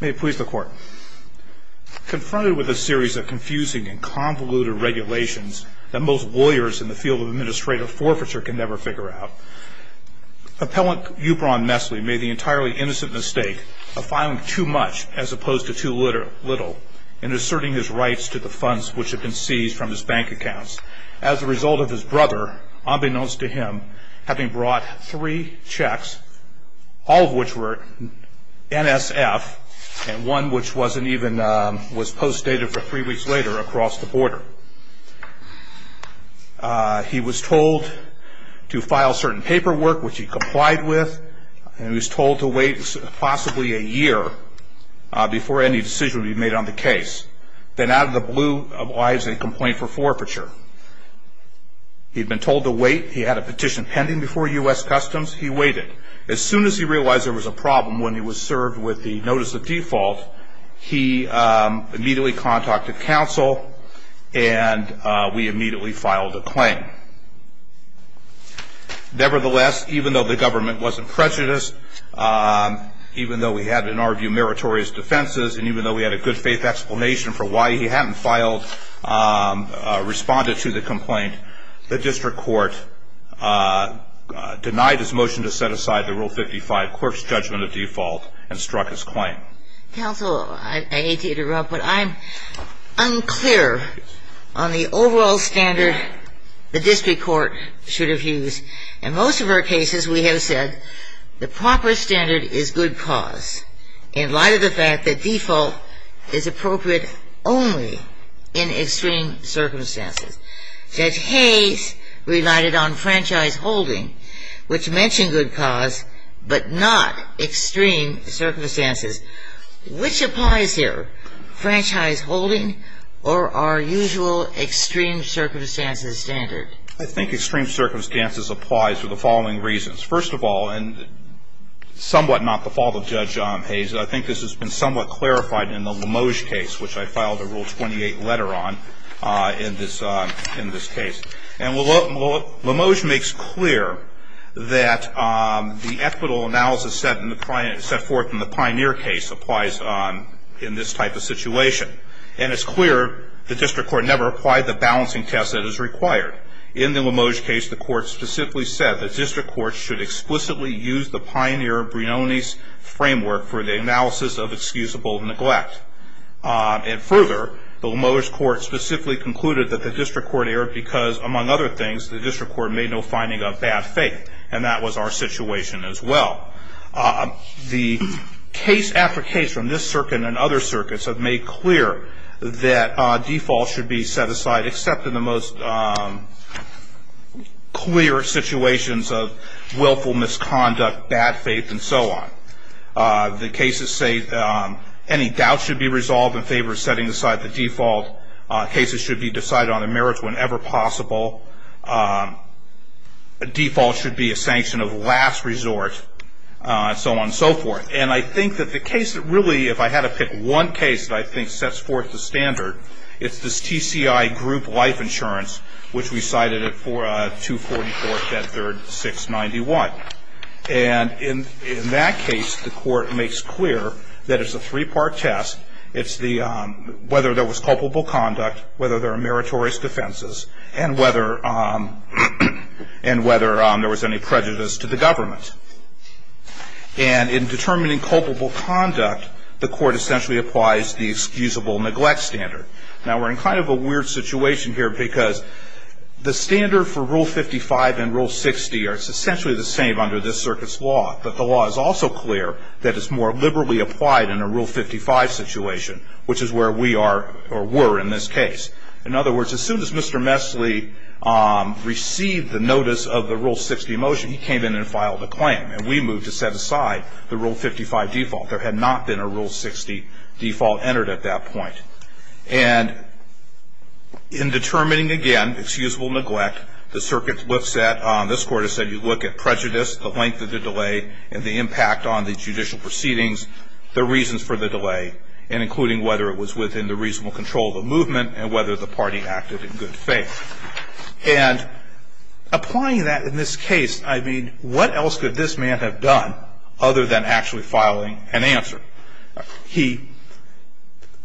May it please the court. Confronted with a series of confusing and convoluted regulations that most lawyers in the field of administrative forfeiture can never figure out, Appellant Yubran Mesle made the entirely innocent mistake of filing too much as opposed to too little in asserting his rights to the funds which had been seized from his bank accounts, as a result of his brother, unbeknownst to him, having brought three checks, all of which were NSF and one which was post dated for three weeks later across the border. He was told to file certain paperwork which he complied with and he was told to wait possibly a year before any decision would be made on the case. Then out of the blue he complied with a complaint for forfeiture. He had been told to wait. He had a petition pending before U.S. Customs. He waited. As soon as he realized there was a problem when he was served with the notice of default, he immediately contacted counsel and we immediately filed a claim. Nevertheless, even though the government wasn't prejudiced, even though we had, in our view, meritorious defenses, and even though we had a good faith explanation for why he hadn't filed, responded to the complaint, the district court denied his motion to set aside the Rule 55 Quirk's judgment of default and struck his claim. Counsel, I hate to interrupt, but I'm unclear on the overall standard the district court should have used. In most of our cases we have said the proper standard is good cause in light of the fact that default is appropriate only in extreme circumstances. Judge Hayes relied on franchise holding, which mentioned good cause, but not extreme circumstances. Which applies here? Franchise holding or our usual extreme circumstances standard? I think extreme circumstances applies for the following reasons. First of all, and somewhat not the fault of Judge Hayes, I think this has been somewhat clarified in the Limoge case, which I filed a Rule 28 letter on in this case. And Limoge makes clear that the equitable analysis set forth in the Pioneer case applies in this type of situation. And it's clear the district court never applied the balancing test that is required. In the Limoge case, the court specifically said the district court should explicitly use the Pioneer-Brionis framework for the analysis of excusable neglect. And further, the Limoge court specifically concluded that the district court erred because, among other things, the district court made no finding of bad faith. And that was our situation as well. The case after case from this circuit and other circuits have made clear that default should be set aside except in the most clear situations of willful misconduct, bad faith, and so on. The cases say any doubt should be resolved in favor of setting aside the default. Cases should be decided on the merits whenever possible. Default should be a sanction of last resort, and so on and so forth. And I think that the case that really, if I had to pick one case that I think sets forth the standard, it's this TCI group life insurance, which we cited it for 244.3.691. And in that case, the court makes clear that it's a three-part test. It's whether there was culpable conduct, whether there were meritorious defenses, and whether there was any prejudice to the government. And in determining culpable conduct, the court essentially applies the excusable neglect standard. Now, we're in kind of a weird situation here because the standard for Rule 55 and Rule 60 are essentially the same under this circuit's law. But the law is also clear that it's more liberally applied in a Rule 55 situation, which is where we are or were in this case. In other words, as soon as Mr. Messle received the notice of the Rule 60 motion, he came in and filed a claim. And we moved to set aside the Rule 55 default. There had not been a Rule 60 default entered at that point. And in determining, again, excusable neglect, the circuit lifts that. And the court has said that the reason for the delay is the length of the delay. And this Court has said you look at prejudice, the length of the delay, and the impact on the judicial proceedings, the reasons for the delay, and including whether it was within the reasonable control of the movement and whether the party acted in good faith. And applying that in this case, I mean, what else could this man have done other than actually filing an answer? He,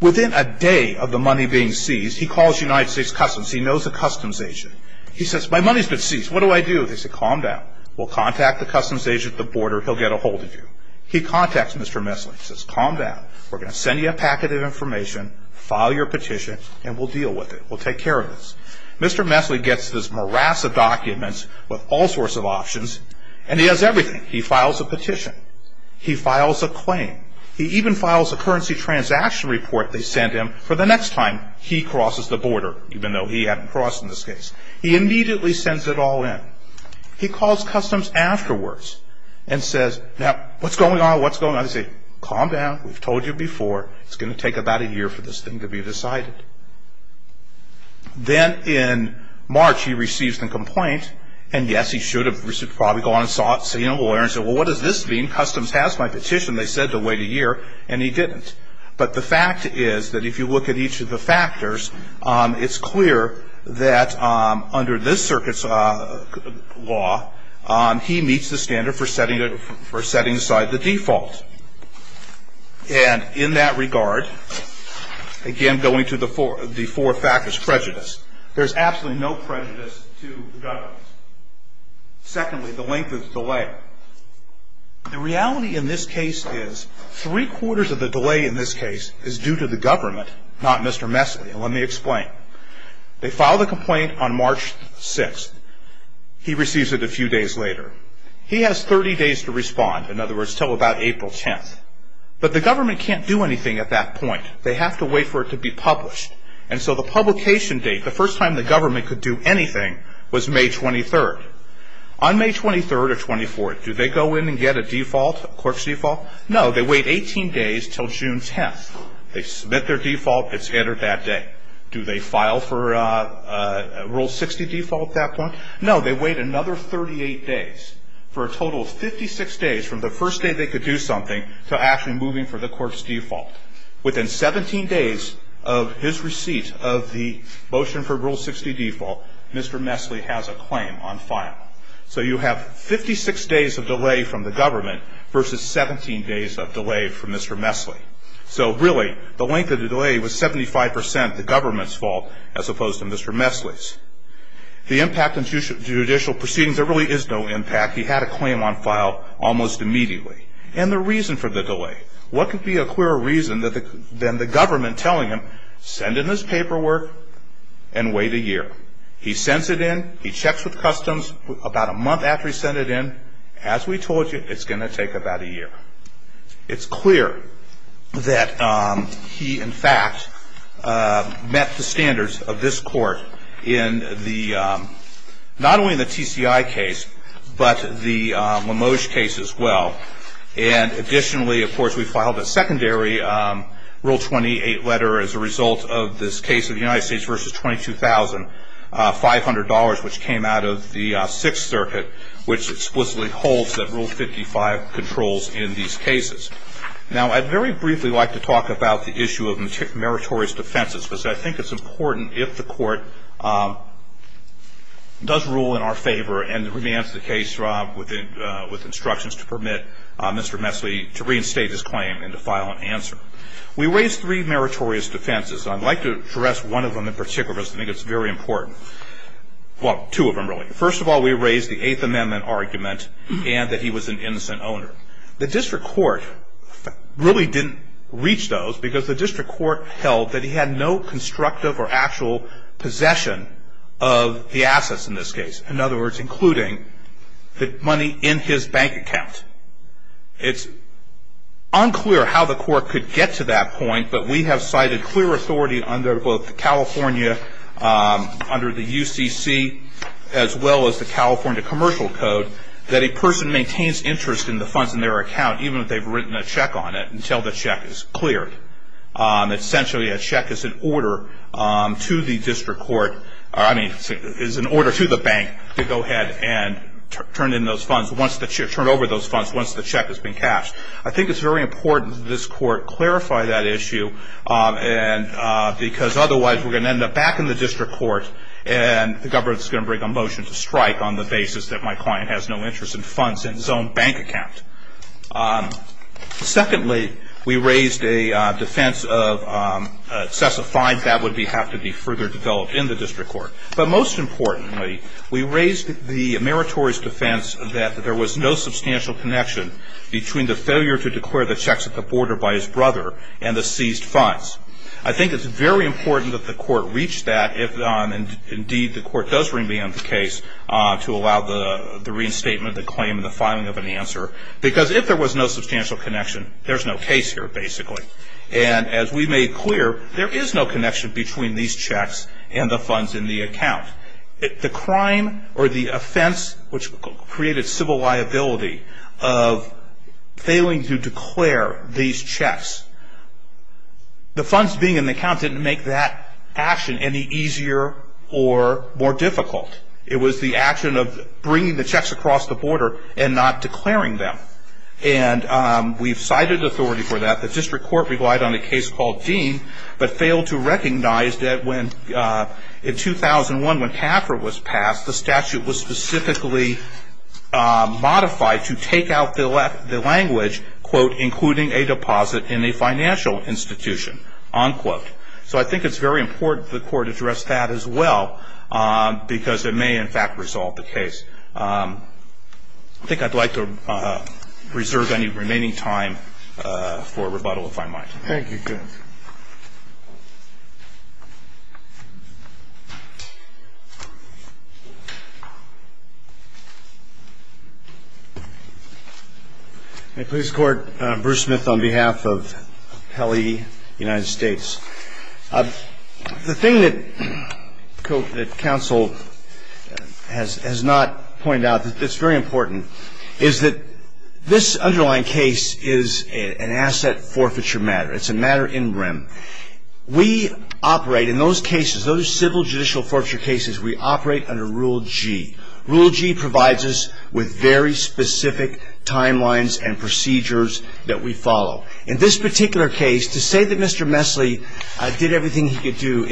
within a day of the money being seized, he calls United States Customs. He knows a customs agent. He says, my money's been seized. What do I do? They say, calm down. We'll contact the customs agent at the border. He'll get a hold of you. He contacts Mr. Messle. He says, calm down. We're going to send you a packet of information, file your petition, and we'll deal with it. We'll take care of this. Mr. Messle gets this morass of documents with all sorts of options, and he has everything. He files a petition. He files a claim. He even files a currency transaction report they send him for the next time he crosses the border, even though he hadn't crossed in this case. He immediately sends it all in. He calls Customs afterwards and says, now, what's going on? What's going on? They say, calm down. We've told you before. It's going to take about a year for this thing to be decided. Then in March, he receives the complaint, and yes, he should have probably gone and seen a lawyer and said, well, what does this mean? Customs has my petition. They said to wait a year, and he didn't. But the fact is that if you look at each of the factors, it's clear that under this circuit's law, he meets the standard for setting aside the default. And in that regard, again, going to the four factors, prejudice. There's absolutely no prejudice to the government. Secondly, the length of the delay. The reality in this case is three-quarters of the delay in this case is due to the government, not Mr. Messle. And let me explain. They file the complaint on March 6th. He receives it a few days later. He has 30 days to respond, in other words, until about April 10th. But the government can't do anything at that point. They have to wait for it to be published. And so the publication date, the first time the government could do anything, was May 23rd. On May 23rd or 24th, do they go in and get a default, a corpse default? No, they wait 18 days until June 10th. They submit their default. It's entered that day. Do they file for Rule 60 default at that point? No, they wait another 38 days for a total of 56 days from the first day they could do something to actually moving for the corpse default. Within 17 days of his receipt of the motion for Rule 60 default, Mr. Messle has a claim on file. So you have 56 days of delay from the government versus 17 days of delay from Mr. Messle. So really, the length of the delay was 75% the government's fault as opposed to Mr. Messle's. The impact on judicial proceedings, there really is no impact. He had a claim on file almost immediately. And the reason for the delay, what could be a clearer reason than the government telling him, send in this paperwork and wait a year. He sends it in. He checks with customs about a month after he sent it in. As we told you, it's going to take about a year. It's clear that he, in fact, met the standards of this court in the, not only in the TCI case, but the Limoge case as well. And additionally, of course, we filed a secondary Rule 28 letter as a result of this case of the United States versus $22,500, which came out of the Sixth Circuit, which explicitly holds that Rule 55 controls in the United States. Now, I'd very briefly like to talk about the issue of meritorious defenses, because I think it's important if the court does rule in our favor and remands the case, Rob, with instructions to permit Mr. Messle to reinstate his claim and to file an answer. We raised three meritorious defenses. I'd like to address one of them in particular, because I think it's very important. Well, two of them, really. First of all, we raised the Eighth Amendment argument and that he was an innocent owner. The district court really didn't reach those, because the district court held that he had no constructive or actual possession of the assets in this case, in other words, including the money in his bank account. It's unclear how the court could get to that point, but we have cited clear authority under both the California, under the UCC, as well as the California Commercial Code, that a person maintains interest in the funds in their account, even if they've written a check on it, until the check is cleared. Essentially, a check is an order to the bank to go ahead and turn over those funds once the check has been cashed. I think it's very important that this court clarify that issue, because otherwise we're going to end up back in the district court and the government is going to bring a motion to strike on the basis that my client has no interest in funds in his own bank account. Secondly, we raised a defense of excessive fines that would have to be further developed in the district court. But most importantly, we raised the meritorious defense that there was no substantial connection between the failure to declare the checks at the border by his brother and the seized funds. I think it's very important that the court reach that if, indeed, the court does remand the case to allow the reinstatement, the claim, and the filing of an answer. Because if there was no substantial connection, there's no case here, basically. And as we made clear, there is no connection between these checks and the funds in the account. The crime or the offense which created civil liability of failing to declare these checks, the funds being in the account didn't make that action any easier or more difficult. It was the action of bringing the checks across the border and not declaring them. And we've cited authority for that. The district court relied on a case called Dean but failed to recognize that in 2001 when CAFR was passed, the statute was specifically modified to take out the language, quote, including a deposit in a financial institution, unquote. So I think it's very important the court address that as well because it may, in fact, resolve the case. I think I'd like to reserve any remaining time for rebuttal, if I might. Thank you, Judge. May it please the Court, Bruce Smith on behalf of Pelley United States. The thing that counsel has not pointed out that's very important is that this underlying case is an asset forfeiture matter. It's a matter in rem. We operate in those cases, those civil judicial forfeiture cases, we operate under Rule G. Rule G provides us with very specific timelines and procedures that we follow. In this particular case, to say that Mr. Messle did everything he could do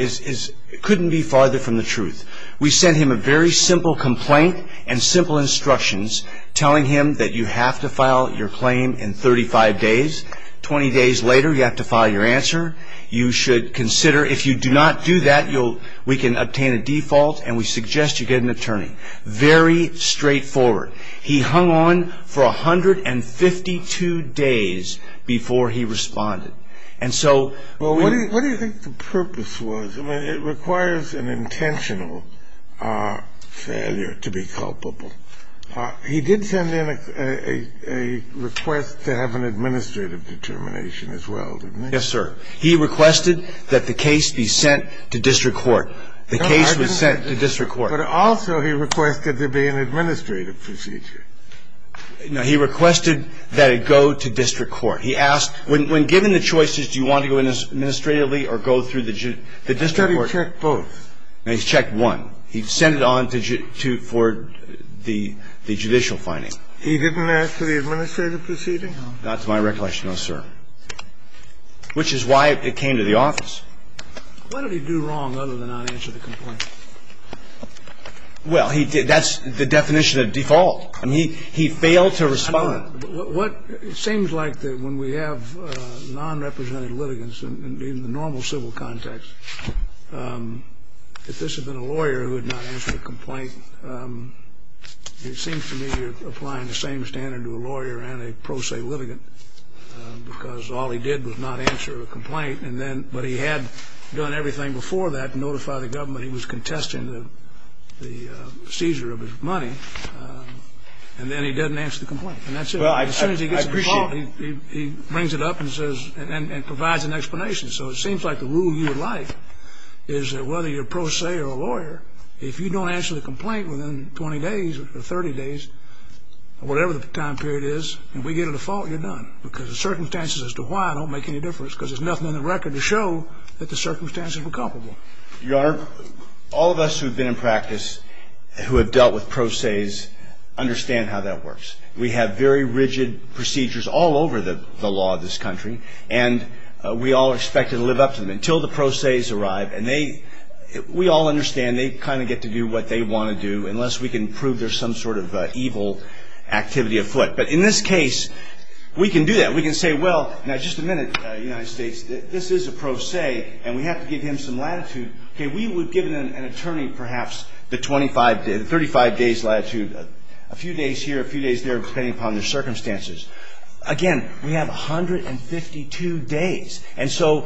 couldn't be farther from the truth. We sent him a very simple complaint and simple instructions telling him that you have to file your claim in 35 days. 20 days later, you have to file your answer. You should consider, if you do not do that, we can obtain a default and we suggest you get an attorney. Very straightforward. He hung on for 152 days before he responded. And so we ---- Well, what do you think the purpose was? I mean, it requires an intentional failure to be culpable. He did send in a request to have an administrative determination as well, didn't he? Yes, sir. He requested that the case be sent to district court. The case was sent to district court. But also he requested there be an administrative procedure. No. He requested that it go to district court. He asked, when given the choices, do you want to go administratively or go through the district court? He said he checked both. No, he checked one. He sent it on for the judicial finding. He didn't ask for the administrative proceeding? Not to my recollection, no, sir. Which is why it came to the office. Why did he do wrong other than not answer the complaint? Well, he did. That's the definition of default. I mean, he failed to respond. It seems like that when we have nonrepresented litigants in the normal civil context, if this had been a lawyer who had not answered a complaint, it seems to me you're applying the same standard to a lawyer and a pro se litigant because all he did was not answer a complaint. But he had done everything before that to notify the government he was contesting the seizure of his money. And then he doesn't answer the complaint. And that's it. As soon as he gets a default, he brings it up and provides an explanation. So it seems like the rule you would like is that whether you're a pro se or a lawyer, if you don't answer the complaint within 20 days or 30 days or whatever the time period is, if we get a default, you're done because the circumstances as to why don't make any difference because there's nothing on the record to show that the circumstances were comparable. Your Honor, all of us who've been in practice who have dealt with pro ses understand how that works. We have very rigid procedures all over the law of this country. And we all are expected to live up to them until the pro ses arrive. And they we all understand they kind of get to do what they want to do unless we can prove there's some sort of evil activity afoot. But in this case, we can do that. We can say, well, now just a minute, United States, this is a pro se. And we have to give him some latitude. We would give an attorney perhaps the 35 days latitude, a few days here, a few days there, depending upon their circumstances. Again, we have 152 days. And so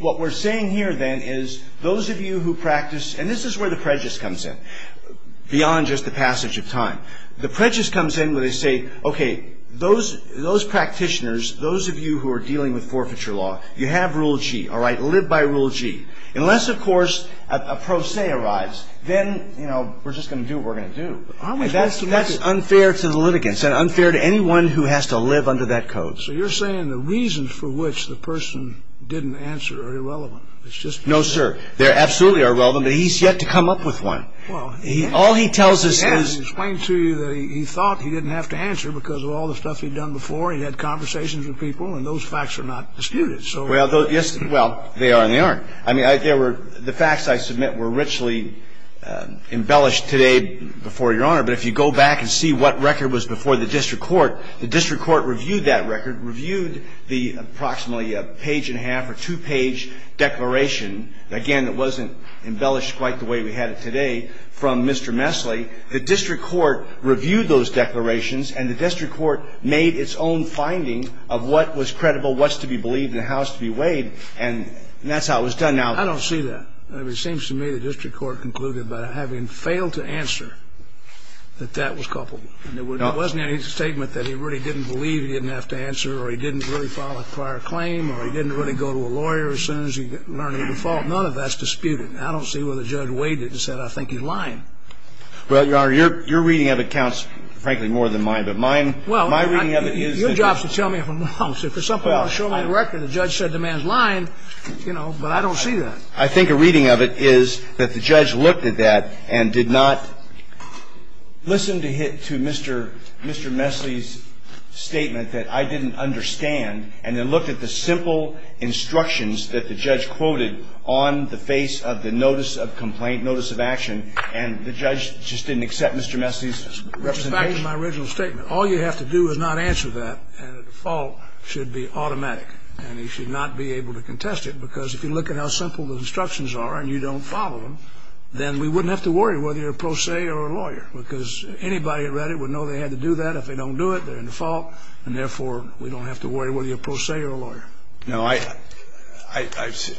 what we're saying here then is those of you who practice, and this is where the prejudice comes in, beyond just the passage of time. The prejudice comes in where they say, okay, those practitioners, those of you who are dealing with forfeiture law, you have Rule G, all right? Live by Rule G. Unless, of course, a pro se arrives, then, you know, we're just going to do what we're going to do. And that's unfair to the litigants and unfair to anyone who has to live under that code. So you're saying the reasons for which the person didn't answer are irrelevant. No, sir. They absolutely are relevant, but he's yet to come up with one. Well, he has. All he tells us is. He has. He explained to you that he thought he didn't have to answer because of all the stuff he'd done before. He'd had conversations with people, and those facts are not disputed. Well, they are and they aren't. I mean, the facts I submit were richly embellished today before Your Honor, but if you go back and see what record was before the district court, the district court reviewed that record, reviewed the approximately page and a half or two-page declaration. Again, it wasn't embellished quite the way we had it today from Mr. Messle. The district court reviewed those declarations, and the district court made its own finding of what was credible, what's to be believed, and how it's to be weighed, and that's how it was done now. I don't see that. It seems to me the district court concluded by having failed to answer that that was culpable. There wasn't any statement that he really didn't believe he didn't have to answer or he didn't really file a prior claim or he didn't really go to a lawyer as soon as he learned of the fault. None of that's disputed. I don't see where the judge weighed it and said, I think he's lying. Well, Your Honor, your reading of it counts, frankly, more than mine. But my reading of it is that the judge looked at that and did not listen to Mr. Messle's statement that I didn't understand and then looked at the simple instructions that the judge quoted on the face of the notice of complaint, notice of action, and the judge just didn't accept Mr. Messle's representation. That's back to my original statement. All you have to do is not answer that, and the fault should be automatic, and he should not be able to contest it, because if you look at how simple the instructions are and you don't follow them, then we wouldn't have to worry whether you're a pro se or a lawyer, because anybody who read it would know they had to do that. If they don't do it, they're in the fault, and therefore, we don't have to worry whether you're a pro se or a lawyer. No, I see.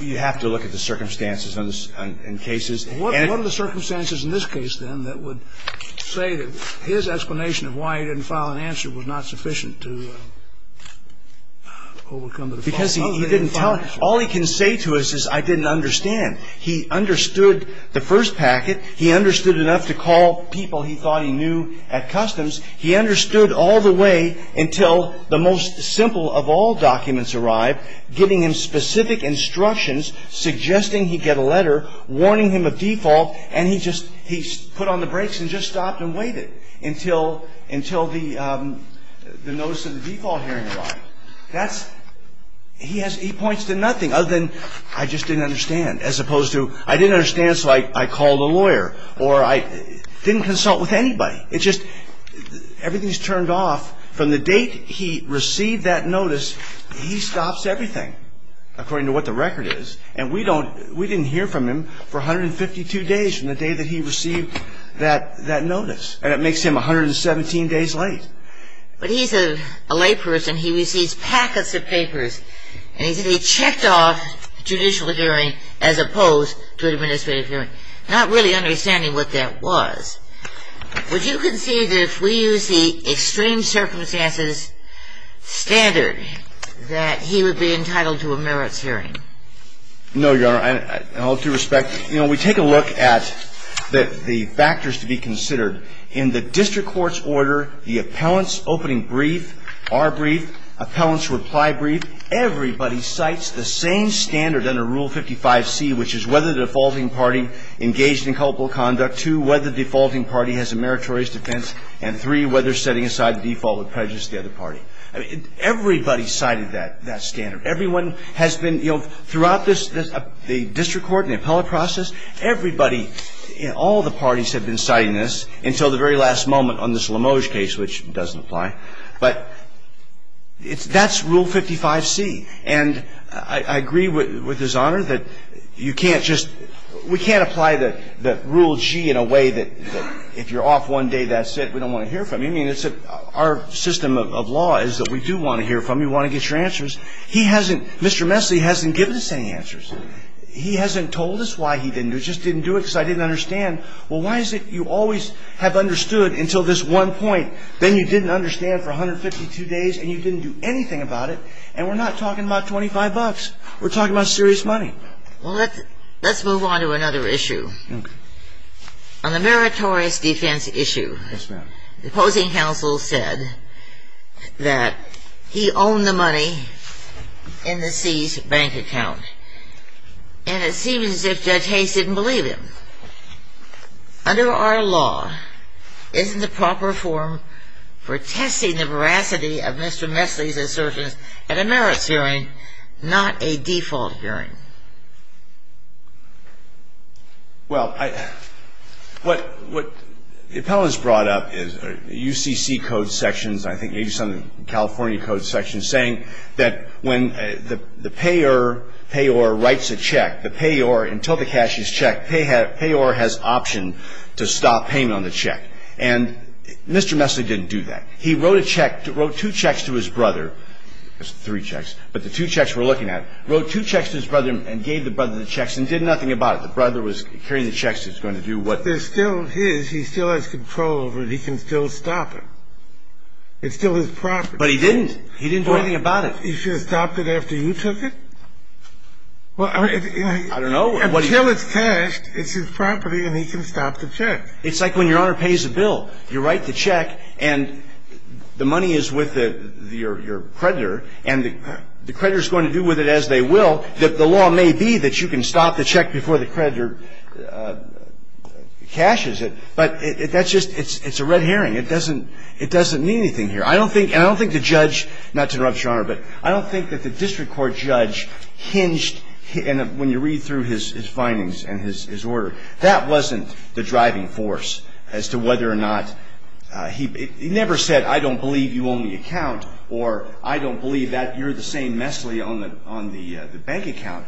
You have to look at the circumstances in cases. What are the circumstances in this case, then, that would say that his explanation of why he didn't file an answer was not sufficient to overcome the default? Because he didn't tell him. All he can say to us is I didn't understand. He understood the first packet. He understood enough to call people he thought he knew at customs. He understood all the way until the most simple of all documents arrived, giving him specific instructions, suggesting he get a letter, warning him of default, and he just put on the brakes and just stopped and waited until the notice of the default hearing arrived. He points to nothing other than I just didn't understand, as opposed to I didn't understand, so I called a lawyer, or I didn't consult with anybody. It's just everything's turned off. From the date he received that notice, he stops everything, according to what the record is, and we didn't hear from him for 152 days from the day that he received that notice, and it makes him 117 days late. But he's a layperson. He receives packets of papers, and he said he checked off judicial hearing as opposed to administrative hearing. Not really understanding what that was. Would you concede that if we use the extreme circumstances standard that he would be entitled to a merits hearing? No, Your Honor, and all due respect, you know, we take a look at the factors to be considered. In the district court's order, the appellant's opening brief, our brief, appellant's reply brief, everybody cites the same standard under Rule 55C, which is whether the defaulting party engaged in culpable conduct, two, whether the defaulting party has a meritorious defense, and three, whether setting aside the default would prejudice the other party. Everybody cited that standard. Everyone has been, you know, throughout the district court and the appellate process, everybody, all the parties have been citing this until the very last moment on this Limoges case, which doesn't apply. But that's Rule 55C. And I agree with His Honor that you can't just, we can't apply the Rule G in a way that if you're off one day, that's it. We don't want to hear from you. I mean, it's our system of law is that we do want to hear from you. We want to get your answers. He hasn't, Mr. Messle hasn't given us any answers. He hasn't told us why he didn't do it. He just didn't do it because I didn't understand. Well, why is it you always have understood until this one point? Then you didn't understand for 152 days and you didn't do anything about it. And we're not talking about 25 bucks. We're talking about serious money. Well, let's move on to another issue. Okay. On the meritorious defense issue. Yes, ma'am. The opposing counsel said that he owned the money in the C's bank account. And it seems as if Judge Hayes didn't believe him. Under our law, isn't the proper form for testing the veracity of Mr. Messle's assertions at a merits hearing, not a default hearing? Well, what the appellants brought up is UCC code sections, I think maybe some California code sections, saying that when the payor writes a check, the payor, until the cash is checked, payor has option to stop payment on the check. And Mr. Messle didn't do that. He wrote a check, wrote two checks to his brother, three checks, but the two checks we're looking at, wrote two checks to his brother and gave the brother the checks and did nothing about it. The brother was carrying the checks and was going to do what? They're still his. He still has control over it. He can still stop it. It's still his property. But he didn't. He didn't do anything about it. He should have stopped it after you took it? I don't know. Until it's cashed, it's his property, and he can stop the check. It's like when Your Honor pays a bill. You write the check, and the money is with your creditor, and the creditor is going to do with it as they will. The law may be that you can stop the check before the creditor cashes it, but that's just – it's a red herring. It doesn't mean anything here. I don't think – and I don't think the judge – not to interrupt Your Honor, but I don't think that the district court judge hinged when you read through his findings and his order. That wasn't the driving force as to whether or not – he never said, I don't believe you own the account, or I don't believe that you're the same messly on the bank account.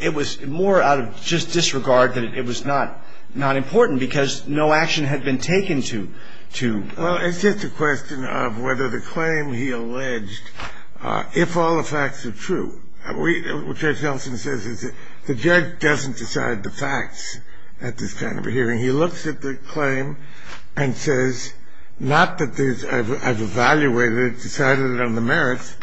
It was more out of just disregard that it was not important because no action had been taken to – Well, it's just a question of whether the claim he alleged – if all the facts are true. We – what Judge Nelson says is that the judge doesn't decide the facts at this kind of a hearing. He looks at the claim and says, not that there's – I've evaluated it, decided on the merits,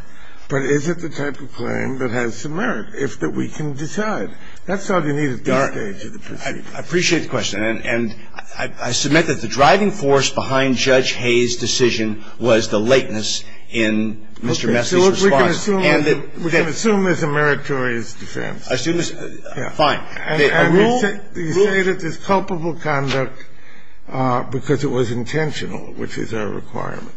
but is it the type of claim that has some merit, if that we can decide? That's all you need at this stage of the proceeding. I appreciate the question. And I submit that the driving force behind Judge Hayes' decision was the lateness in Mr. Messy's response. And that – We can assume it's a meritorious defense. Assume it's – fine. Rule – And you say that it's culpable conduct because it was intentional, which is our requirement.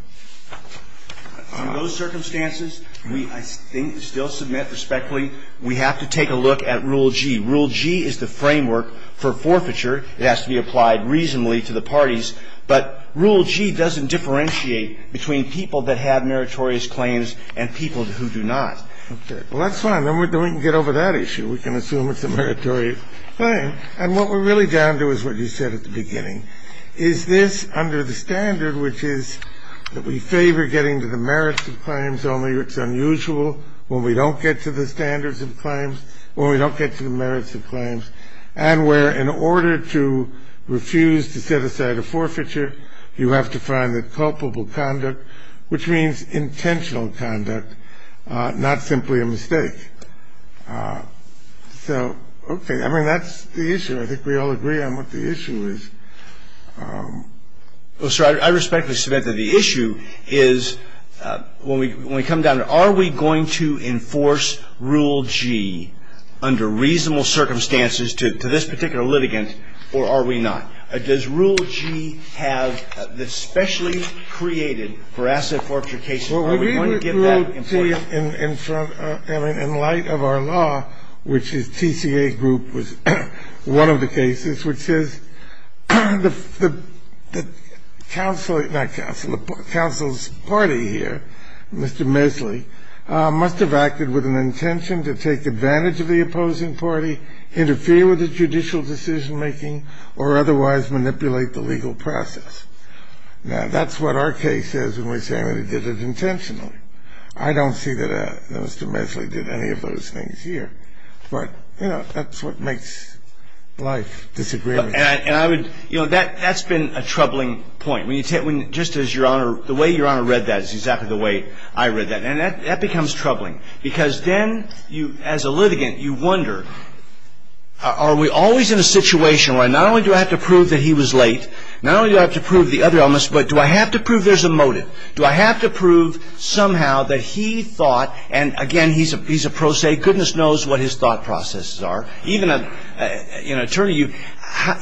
Under those circumstances, we, I think, still submit respectfully, we have to take a look at Rule G. Rule G is the framework for forfeiture. It has to be applied reasonably to the parties. But Rule G doesn't differentiate between people that have meritorious claims and people who do not. Okay. Well, that's fine. Then we can get over that issue. We can assume it's a meritorious claim. And what we're really down to is what you said at the beginning, is this under the standard, which is that we favor getting to the merits of claims, only it's unusual when we don't get to the standards of claims, when we don't get to the merits of claims, and where in order to refuse to set aside a forfeiture, you have to find that culpable conduct, which means intentional conduct, not simply a mistake. So, okay. I mean, that's the issue. I think we all agree on what the issue is. Well, sir, I respectfully submit that the issue is, when we come down to it, are we going to enforce Rule G under reasonable circumstances to this particular litigant, or are we not? Does Rule G have, especially created for asset forfeiture cases, are we going to give that importance? Well, Rule G, in front of, I mean, in light of our law, which is TCA Group was one of the cases, which is the counsel, not counsel, the counsel's party here, Mr. Mesley, must have acted with an intention to take advantage of the opposing party, interfere with the judicial decision-making, or otherwise manipulate the legal process. Now, that's what our case is when we say we did it intentionally. I don't see that Mr. Mesley did any of those things here. But, you know, that's what makes life disagreeable. And I would, you know, that's been a troubling point. Just as Your Honor, the way Your Honor read that is exactly the way I read that. And that becomes troubling, because then you, as a litigant, you wonder, are we always in a situation where not only do I have to prove that he was late, not only do I have to prove the other elements, but do I have to prove there's a motive? Do I have to prove somehow that he thought, and again, he's a pro se, goodness knows what his thought processes are. Even an attorney,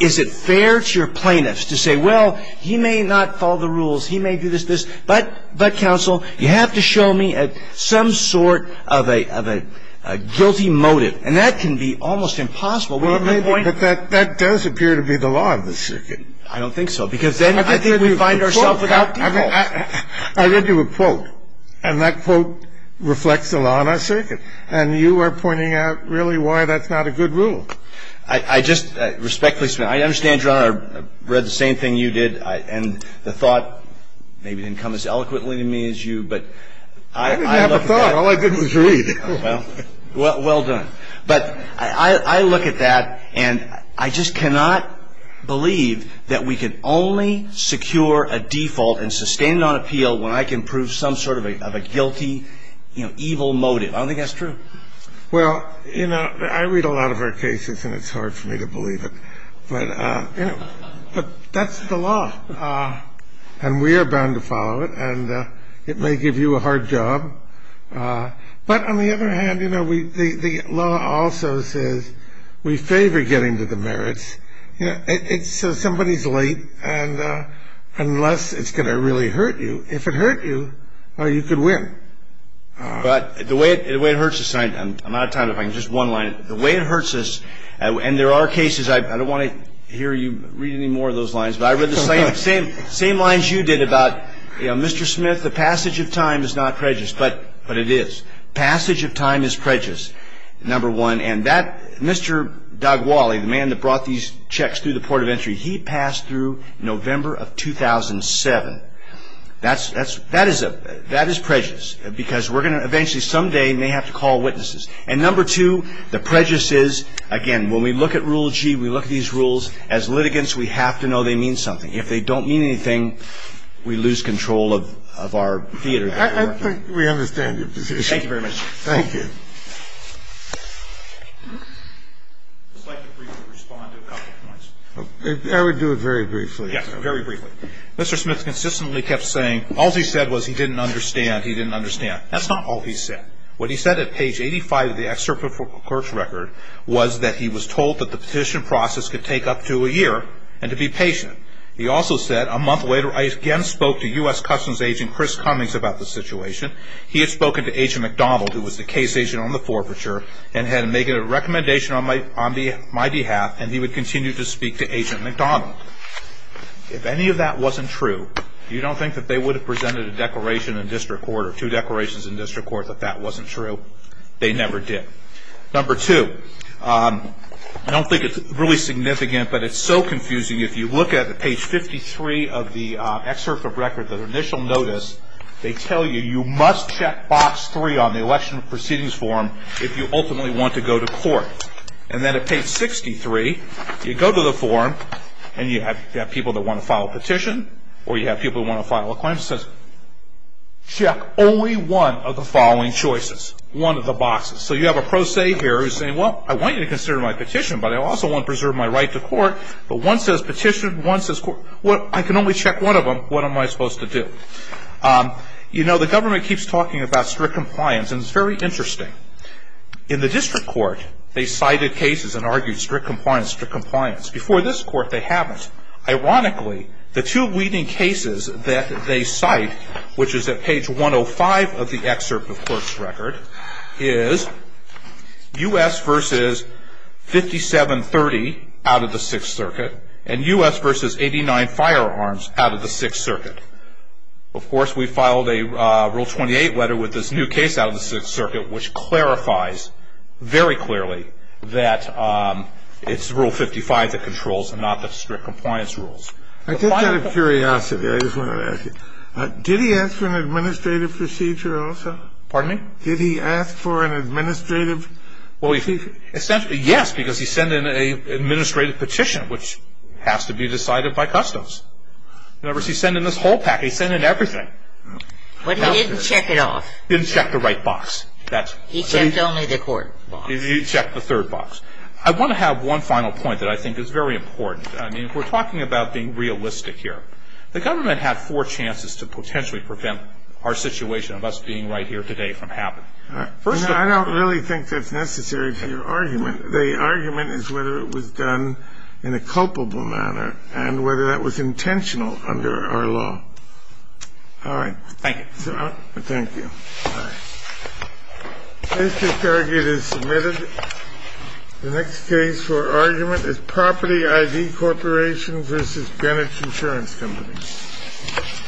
is it fair to your plaintiffs to say, well, he may not follow the rules, he may do this, this. But, counsel, you have to show me some sort of a guilty motive. And that can be almost impossible. We have a point. But that does appear to be the law of the circuit. I don't think so. Because then I think we find ourselves without default. I read you a quote, and that quote reflects the law in our circuit. And you are pointing out really why that's not a good rule. I just respectfully submit. I understand, Your Honor, I read the same thing you did, and the thought maybe didn't come as eloquently to me as you, but I look at that. I didn't have a thought. All I did was read. Well, well done. But I look at that, and I just cannot believe that we can only secure a default and sustain it on appeal when I can prove some sort of a guilty, evil motive. I don't think that's true. Well, you know, I read a lot of our cases, and it's hard for me to believe it. But that's the law, and we are bound to follow it. And it may give you a hard job. But on the other hand, you know, the law also says we favor getting to the merits. So somebody's late, and unless it's going to really hurt you, if it hurt you, you could win. But the way it hurts us, and I'm out of time. If I can just one-line it. The way it hurts us, and there are cases, I don't want to hear you read any more of those lines, but I read the same lines you did about, you know, Mr. Smith, the passage of time is not prejudiced. But it is. Passage of time is prejudiced, number one. And that Mr. Dagwali, the man that brought these checks through the port of entry, he passed through November of 2007. That is prejudiced because we're going to eventually someday may have to call witnesses. And number two, the prejudice is, again, when we look at Rule G, we look at these rules, as litigants we have to know they mean something. If they don't mean anything, we lose control of our theater. I think we understand your position. Thank you very much. Thank you. I'd just like to briefly respond to a couple of points. I would do it very briefly. Yes, very briefly. Mr. Smith consistently kept saying all he said was he didn't understand, he didn't understand. That's not all he said. What he said at page 85 of the excerpt from the clerk's record was that he was told that the petition process could take up to a year and to be patient. He also said a month later, I again spoke to U.S. Customs agent Chris Cummings about the situation. He had spoken to Agent McDonald, who was the case agent on the forfeiture, and had made a recommendation on my behalf, and he would continue to speak to Agent McDonald. If any of that wasn't true, you don't think that they would have presented a declaration in district court or two declarations in district court that that wasn't true? They never did. Number two, I don't think it's really significant, but it's so confusing. If you look at page 53 of the excerpt from the record, the initial notice, they tell you you must check box three on the election proceedings form if you ultimately want to go to court. And then at page 63, you go to the form, and you have people that want to file a petition or you have people that want to file a claim. It says, check only one of the following choices, one of the boxes. So you have a pro se here who's saying, well, I want you to consider my petition, but I also want to preserve my right to court. But one says petition, one says court. I can only check one of them. What am I supposed to do? You know, the government keeps talking about strict compliance, and it's very interesting. In the district court, they cited cases and argued strict compliance, strict compliance. Before this court, they haven't. Ironically, the two leading cases that they cite, which is at page 105 of the excerpt of clerk's record, is U.S. versus 5730 out of the Sixth Circuit and U.S. versus 89 firearms out of the Sixth Circuit. Of course, we filed a Rule 28 letter with this new case out of the Sixth Circuit, which clarifies very clearly that it's Rule 55 that controls and not the strict compliance rules. I just out of curiosity, I just want to ask you, did he ask for an administrative procedure also? Pardon me? Did he ask for an administrative? Well, essentially, yes, because he sent in an administrative petition, which has to be decided by customs. In other words, he sent in this whole package. He sent in everything. But he didn't check it off. He checked the third box. He checked only the court box. He checked the third box. I want to have one final point that I think is very important. I mean, if we're talking about being realistic here, the government had four chances to potentially prevent our situation of us being right here today from happening. First of all, I don't really think that's necessary for your argument. The argument is whether it was done in a culpable manner and whether that was intentional under our law. All right. Thank you. Thank you. All right. This case is submitted. The next case for argument is Property ID Corporation v. Greenwich Insurance Company.